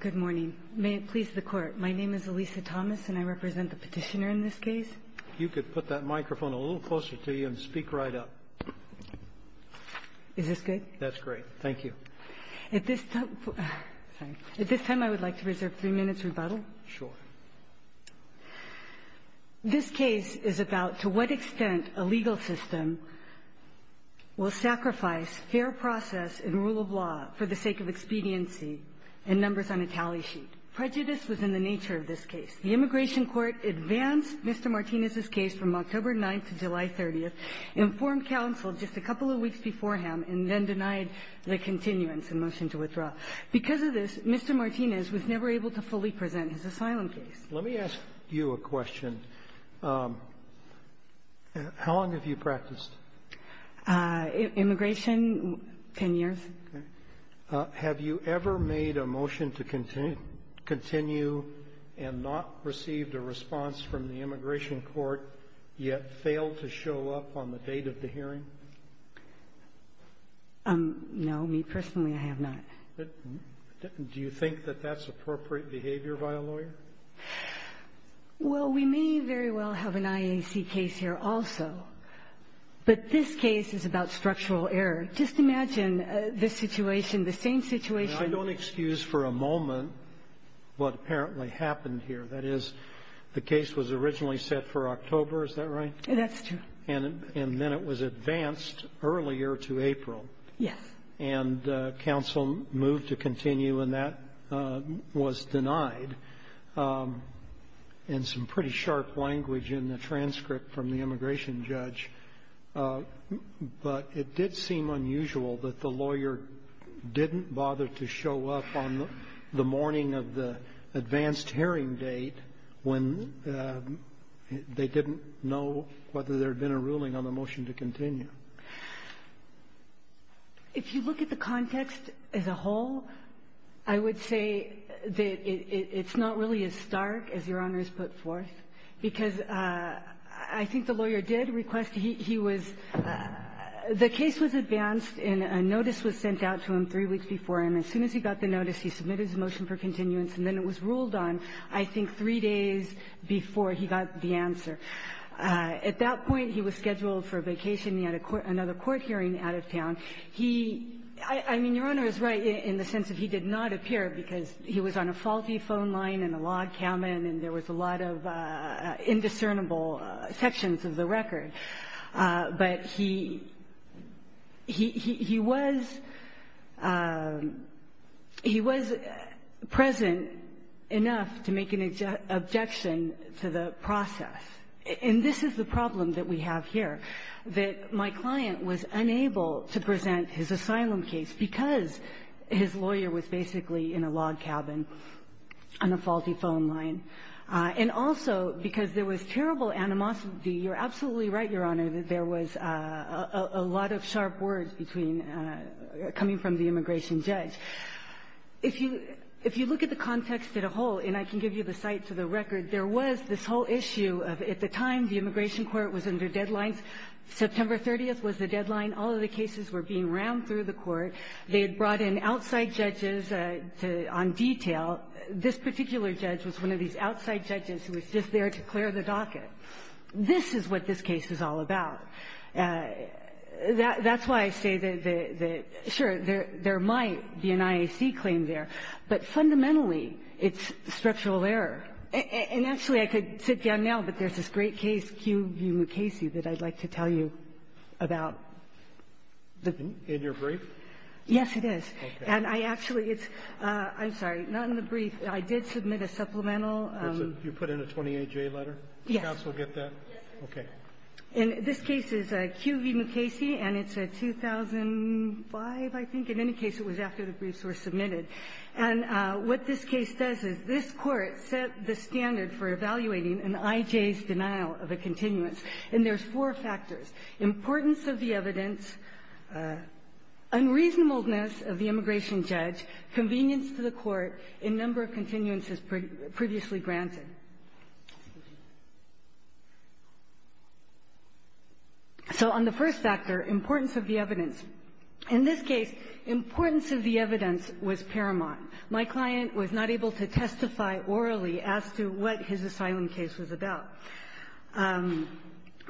Good morning. May it please the Court, my name is Elisa Thomas and I represent the petitioner in this case. You could put that microphone a little closer to you and speak right up. Is this good? That's great. Thank you. At this time I would like to reserve three minutes rebuttal. Sure. This case is about to what extent a legal system will sacrifice fair process and rule of law for the sake of expediency and numbers on a tally sheet. Prejudice was in the nature of this case. The Immigration Court advanced Mr. Martinez's case from October 9th to July 30th, informed counsel just a couple of weeks beforehand, and then denied the continuance and motion to withdraw. Because of this, Mr. Martinez was never able to fully present his asylum case. Let me ask you a question. How long have you practiced? Immigration, 10 years. Okay. Have you ever made a motion to continue and not received a response from the Immigration Court, yet failed to show up on the date of the hearing? No, me personally, I have not. Do you think that that's appropriate behavior by a lawyer? Well, we may very well have an IAC case here also. But this case is about structural error. Just imagine the situation, the same situation. I don't excuse for a moment what apparently happened here. That is, the case was originally set for October. Is that right? That's true. And then it was advanced earlier to April. Yes. And counsel moved to continue, and that was denied in some pretty sharp language in the transcript from the immigration judge. But it did seem unusual that the lawyer didn't bother to show up on the morning of the advanced hearing date when they didn't know whether there had been a ruling on the motion to continue. If you look at the context as a whole, I would say that it's not really as stark as Your Honor has put forth, because I think the lawyer did request he was the case was advanced and a notice was sent out to him three weeks before. And as soon as he got the notice, he submitted his motion for continuance, and then it was ruled on, I think, three days before he got the answer. At that point, he was scheduled for a vacation. He had a court — another court hearing out of town. He — I mean, Your Honor is right in the sense that he did not appear because he was on a faulty phone line and a log cabin and there was a lot of indiscernible sections of the record. But he — he was — he was present enough to make an objection to the process. And this is the problem that we have here, that my client was unable to present his asylum case because his lawyer was basically in a log cabin on a faulty phone line, and also because there was terrible animosity. You're absolutely right, Your Honor, that there was a lot of sharp words between — coming from the immigration judge. If you — if you look at the context as a whole, and I can give you the cites of the immigration court was under deadlines. September 30th was the deadline. All of the cases were being rammed through the court. They had brought in outside judges to — on detail. This particular judge was one of these outside judges who was just there to clear the docket. This is what this case is all about. That's why I say that the — sure, there might be an IAC claim there, but fundamentally it's structural error. And actually, I could sit down now, but there's this great case, Q v. Mukasey, that I'd like to tell you about. In your brief? Yes, it is. And I actually — it's — I'm sorry. Not in the brief. I did submit a supplemental. You put in a 28-J letter? Yes. Counsel get that? Yes, sir. Okay. And this case is Q v. Mukasey, and it's a 2005, I think. In any case, it was after the briefs were submitted. And what this case does is this Court set the standard for evaluating an IJ's denial of a continuance. And there's four factors. Importance of the evidence, unreasonableness of the immigration judge, convenience to the Court, and number of continuances previously granted. So on the first factor, importance of the evidence. In this case, importance of the evidence was paramount. My client was not able to testify orally as to what his asylum case was about.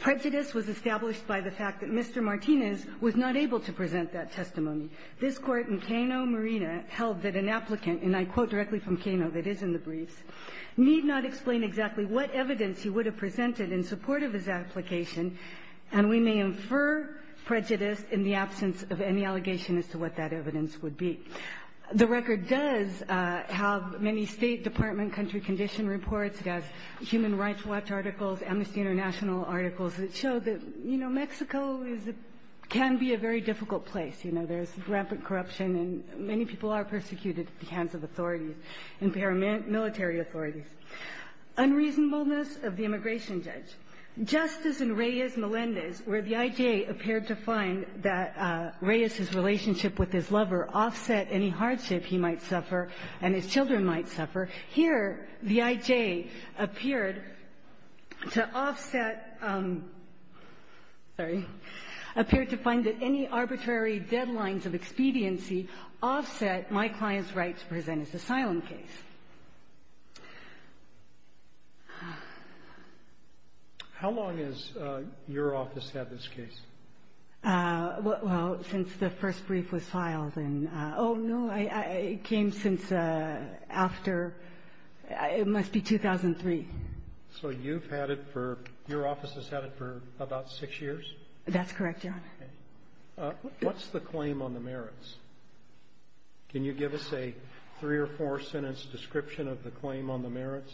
Prejudice was established by the fact that Mr. Martinez was not able to present that testimony. This Court in Cano, Marina, held that an applicant, and I quote directly from Cano, that is in the briefs, need not explain exactly what evidence he would have presented in support of his application, and we may infer prejudice in the absence of any allegation as to what that evidence would be. The record does have many State Department country condition reports. It has Human Rights Watch articles, Amnesty International articles that show that, you know, Mexico is a – can be a very difficult place. You know, there's rampant corruption, and many people are persecuted at the hands of authorities, impairment military authorities. Unreasonableness of the immigration judge. Just as in Reyes-Melendez, where the I.J. appeared to find that Reyes's relationship with his lover offset any hardship he might suffer and his children might suffer, here the I.J. appeared to offset – sorry – appeared to find that any arbitrary deadlines of expediency offset my client's right to present his asylum case. How long has your office had this case? Well, since the first brief was filed in – oh, no, it came since after – it must be 2003. So you've had it for – your office has had it for about six years? That's correct, Your Honor. What's the claim on the merits? Can you give us a three- or four-sentence description of the claim on the merits?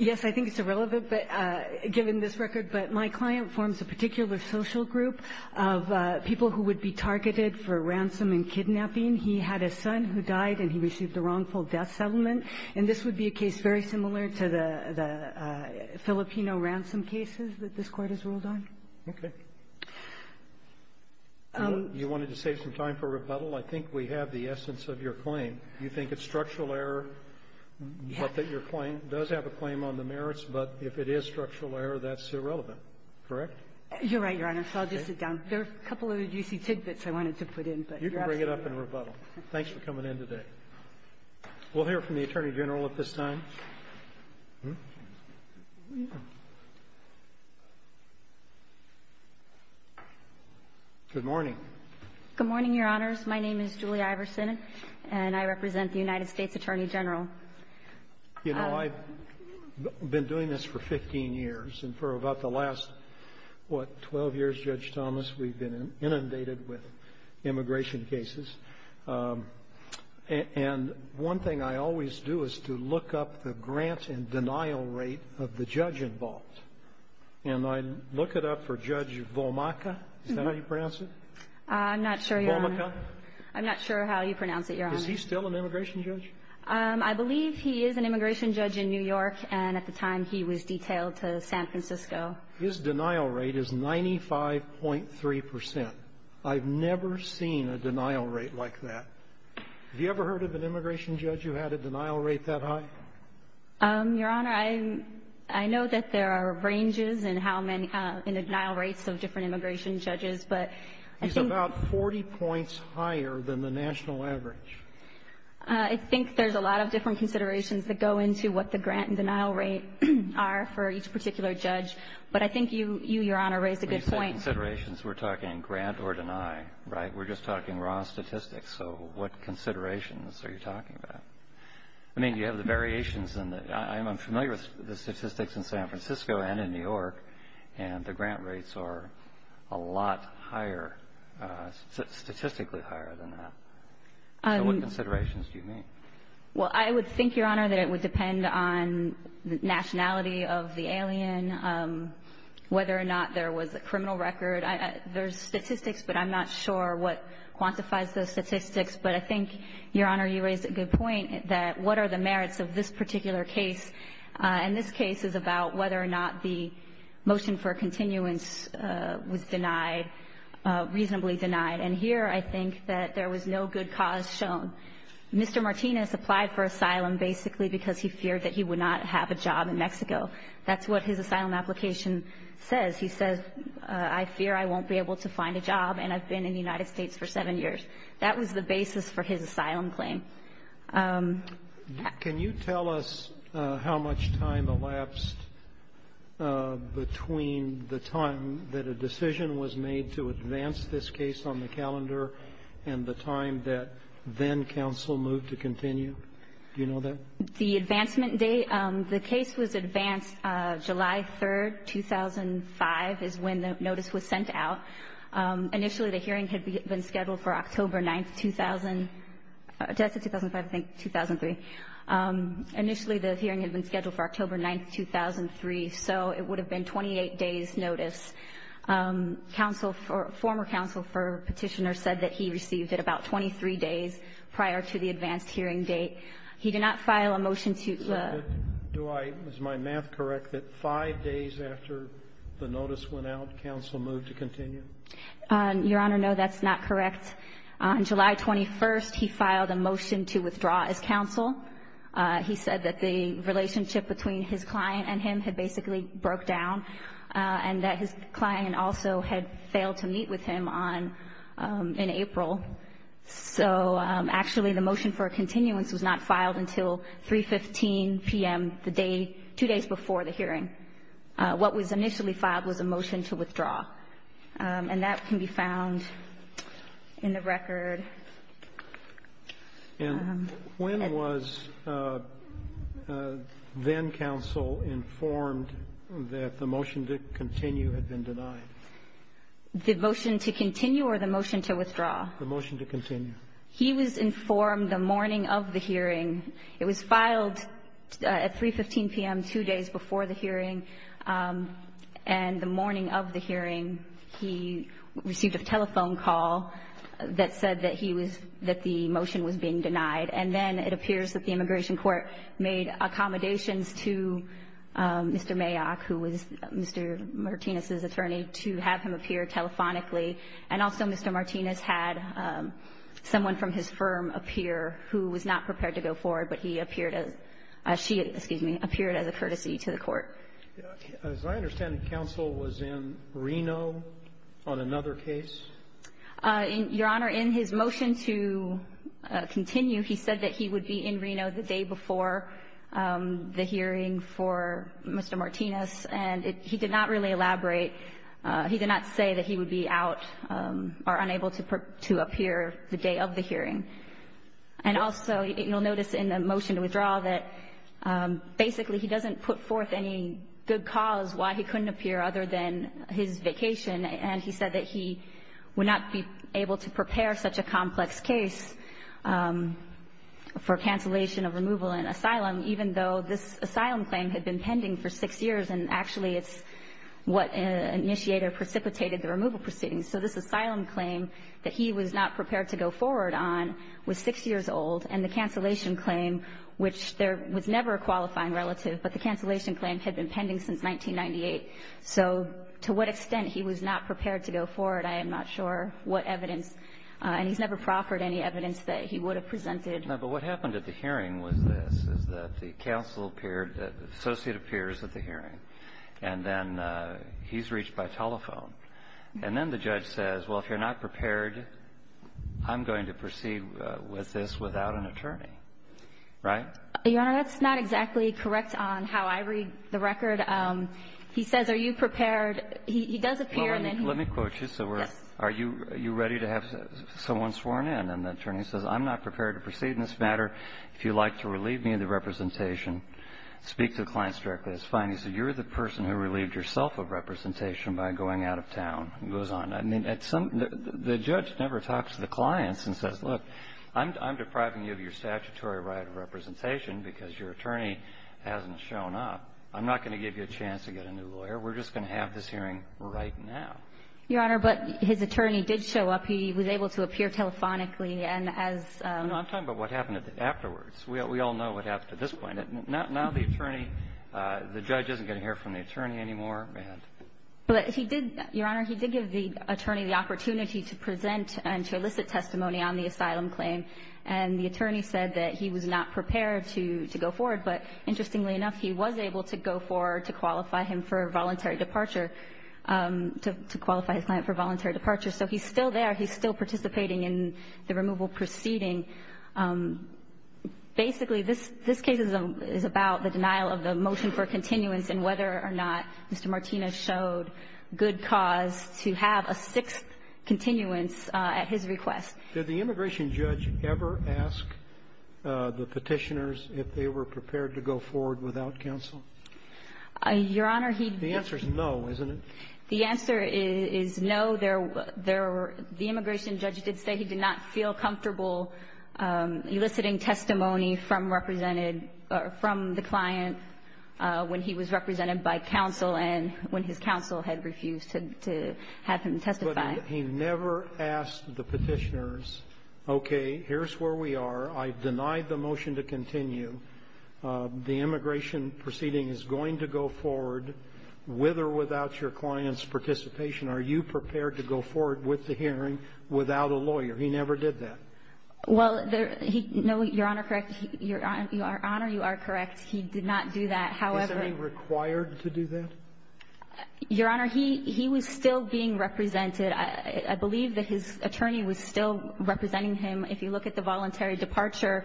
Yes, I think it's irrelevant, but – given this record. But my client forms a particular social group of people who would be targeted for ransom and kidnapping. He had a son who died, and he received a wrongful death settlement. And this would be a case very similar to the Filipino ransom cases that this Court has ruled on. Okay. You wanted to save some time for rebuttal? I think we have the essence of your claim. You think it's structural error, but that your claim does have a claim on the merits, but if it is structural error, that's irrelevant, correct? You're right, Your Honor. So I'll just sit down. There are a couple of juicy tidbits I wanted to put in, but you're absolutely right. You can bring it up in rebuttal. Thanks for coming in today. We'll hear from the Attorney General at this time. Good morning. Good morning, Your Honors. My name is Julie Iverson, and I represent the United States Attorney General. You know, I've been doing this for 15 years. And for about the last, what, 12 years, Judge Thomas, we've been inundated with immigration cases. Attorney General. And I look it up for Judge Vomaca. Is that how you pronounce it? I'm not sure, Your Honor. Vomaca? I'm not sure how you pronounce it, Your Honor. Is he still an immigration judge? I believe he is an immigration judge in New York, and at the time, he was detailed to San Francisco. His denial rate is 95.3 percent. I've never seen a denial rate like that. Have you ever heard of an immigration judge who had a denial rate that high? Your Honor, I know that there are ranges in how many denial rates of different immigration judges. He's about 40 points higher than the national average. I think there's a lot of different considerations that go into what the grant and denial rate are for each particular judge. But I think you, Your Honor, raised a good point. When you say considerations, we're talking grant or deny, right? We're just talking raw statistics. So what considerations are you talking about? I mean, you have the variations. I'm familiar with the statistics in San Francisco and in New York, and the grant rates are a lot higher, statistically higher than that. So what considerations do you mean? Well, I would think, Your Honor, that it would depend on the nationality of the alien, whether or not there was a criminal record. There's statistics, but I'm not sure what quantifies those statistics. But I think, Your Honor, you raised a good point, that what are the merits of this particular case. And this case is about whether or not the motion for continuance was denied, reasonably denied. And here I think that there was no good cause shown. Mr. Martinez applied for asylum basically because he feared that he would not have a job in Mexico. That's what his asylum application says. He says, I fear I won't be able to find a job, and I've been in the United States for seven years. That was the basis for his asylum claim. Can you tell us how much time elapsed between the time that a decision was made to advance this case on the calendar and the time that then counsel moved to continue? Do you know that? The advancement date, the case was advanced July 3rd, 2005, is when the notice was sent out. Initially, the hearing had been scheduled for October 9th, 2000. Did I say 2005? I think 2003. Initially, the hearing had been scheduled for October 9th, 2003, so it would have been 28 days' notice. Counsel, former counsel for Petitioner said that he received it about 23 days prior to the advanced hearing date. He did not file a motion to the ---- Your Honor, no, that's not correct. On July 21st, he filed a motion to withdraw as counsel. He said that the relationship between his client and him had basically broke down and that his client also had failed to meet with him in April. So, actually, the motion for a continuance was not filed until 3.15 p.m., the day two days before the hearing. What was initially filed was a motion to withdraw. And that can be found in the record. And when was then-counsel informed that the motion to continue had been denied? The motion to continue or the motion to withdraw? The motion to continue. He was informed the morning of the hearing. It was filed at 3.15 p.m., two days before the hearing, and the morning of the hearing he received a telephone call that said that he was ---- that the motion was being denied. And then it appears that the immigration court made accommodations to Mr. Mayock, who was Mr. Martinez's attorney, to have him appear telephonically. And also Mr. Martinez had someone from his firm appear who was not prepared to go forward, but he appeared as ---- she, excuse me, appeared as a courtesy to the court. As I understand it, counsel was in Reno on another case? Your Honor, in his motion to continue, he said that he would be in Reno the day before the hearing for Mr. Martinez. And he did not really elaborate. He did not say that he would be out or unable to appear the day of the hearing. And also you'll notice in the motion to withdraw that basically he doesn't put forth any good cause why he couldn't appear other than his vacation, and he said that he would not be able to prepare such a complex case for cancellation of removal and asylum, even though this asylum claim had been pending for six years, and actually it's what initiated or precipitated the removal proceedings. So this asylum claim that he was not prepared to go forward on was six years old, and the cancellation claim, which there was never a qualifying relative, but the cancellation claim had been pending since 1998. So to what extent he was not prepared to go forward, I am not sure what evidence and he's never proffered any evidence that he would have presented. No, but what happened at the hearing was this, is that the counsel appeared, the associate appears at the hearing, and then he's reached by telephone. And then the judge says, well, if you're not prepared, I'm going to proceed with this without an attorney. Right? Your Honor, that's not exactly correct on how I read the record. He says, are you prepared? He does appear and then he goes. Well, let me quote you. Yes. Are you ready to have someone sworn in? And the attorney says, I'm not prepared to proceed in this matter. If you'd like to relieve me of the representation, speak to the clients directly. It's fine. He said, you're the person who relieved yourself of representation by going out of town. He goes on. I mean, at some the judge never talks to the clients and says, look, I'm depriving you of your statutory right of representation because your attorney hasn't shown up. I'm not going to give you a chance to get a new lawyer. We're just going to have this hearing right now. Your Honor, but his attorney did show up. He was able to appear telephonically. And as — I'm talking about what happened afterwards. We all know what happened at this point. Now the attorney — the judge isn't going to hear from the attorney anymore. Go ahead. But he did — Your Honor, he did give the attorney the opportunity to present and to elicit testimony on the asylum claim. And the attorney said that he was not prepared to go forward. But interestingly enough, he was able to go forward to qualify him for voluntary departure — to qualify his client for voluntary departure. So he's still there. He's still participating in the removal proceeding. Basically, this case is about the denial of the motion for continuance and whether or not Mr. Martinez showed good cause to have a sixth continuance at his request. Did the immigration judge ever ask the Petitioners if they were prepared to go forward without counsel? Your Honor, he — The answer is no, isn't it? The answer is no. The immigration judge did say he did not feel comfortable eliciting testimony from represented — from the client when he was represented by counsel and when his counsel had refused to have him testify. But he never asked the Petitioners, okay, here's where we are. I deny the motion to continue. The immigration proceeding is going to go forward with or without your client's participation. Are you prepared to go forward with the hearing without a lawyer? He never did that. Well, he — no, Your Honor, correct. Your Honor, you are correct. He did not do that. However — Is he required to do that? Your Honor, he was still being represented. I believe that his attorney was still representing him. If you look at the voluntary departure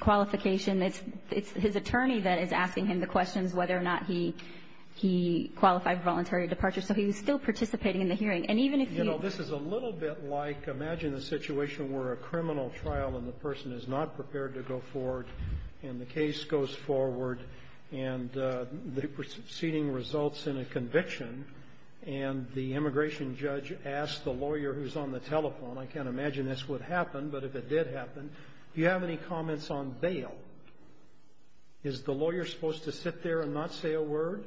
qualification, it's his attorney that is asking him the questions whether or not he qualified for voluntary departure. So he was still participating in the hearing. And even if you — You know, this is a little bit like, imagine a situation where a criminal trial and the person is not prepared to go forward, and the case goes forward, and the proceeding results in a conviction, and the immigration judge asks the lawyer who's on the telephone — I can't imagine this would happen, but if it did happen — do you have any comments on bail? Is the lawyer supposed to sit there and not say a word,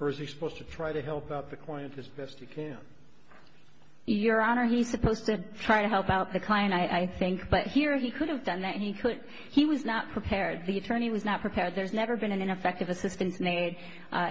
or is he supposed to try to help out the client as best he can? Your Honor, he's supposed to try to help out the client, I think. But here, he could have done that. He could — he was not prepared. The attorney was not prepared. There's never been an ineffective assistance made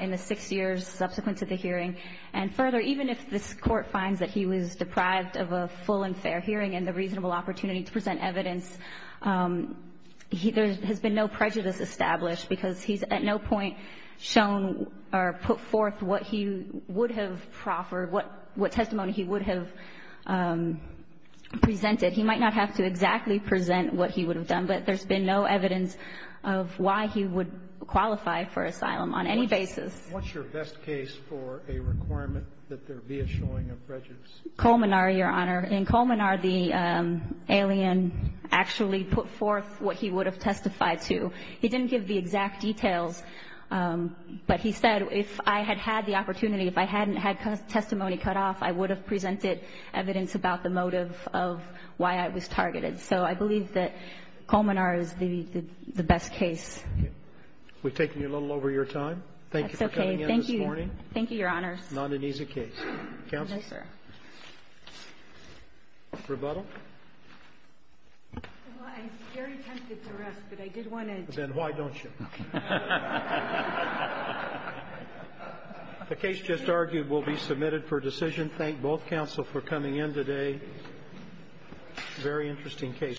in the six years subsequent to the hearing. And further, even if this Court finds that he was deprived of a full and fair hearing and the reasonable opportunity to present evidence, there has been no prejudice established, because he's at no point shown or put forth what he would have proffered, what testimony he would have presented. He might not have to exactly present what he would have done, but there's been no evidence of why he would qualify for asylum on any basis. What's your best case for a requirement that there be a showing of prejudice? Colmenar, Your Honor. In Colmenar, the alien actually put forth what he would have testified to. He didn't give the exact details, but he said, if I had had the opportunity, if I hadn't had testimony cut off, I would have presented evidence about the motive of why I was targeted. So I believe that Colmenar is the best case. We've taken you a little over your time. Thank you for coming in this morning. That's okay. Thank you. Thank you, Your Honor. Not an easy case. Counsel? No, sir. Rebuttal? Well, I'm very tempted to rest, but I did want to ---- Then why don't you? The case just argued will be submitted for decision. Thank both counsel for coming in today. Very interesting case.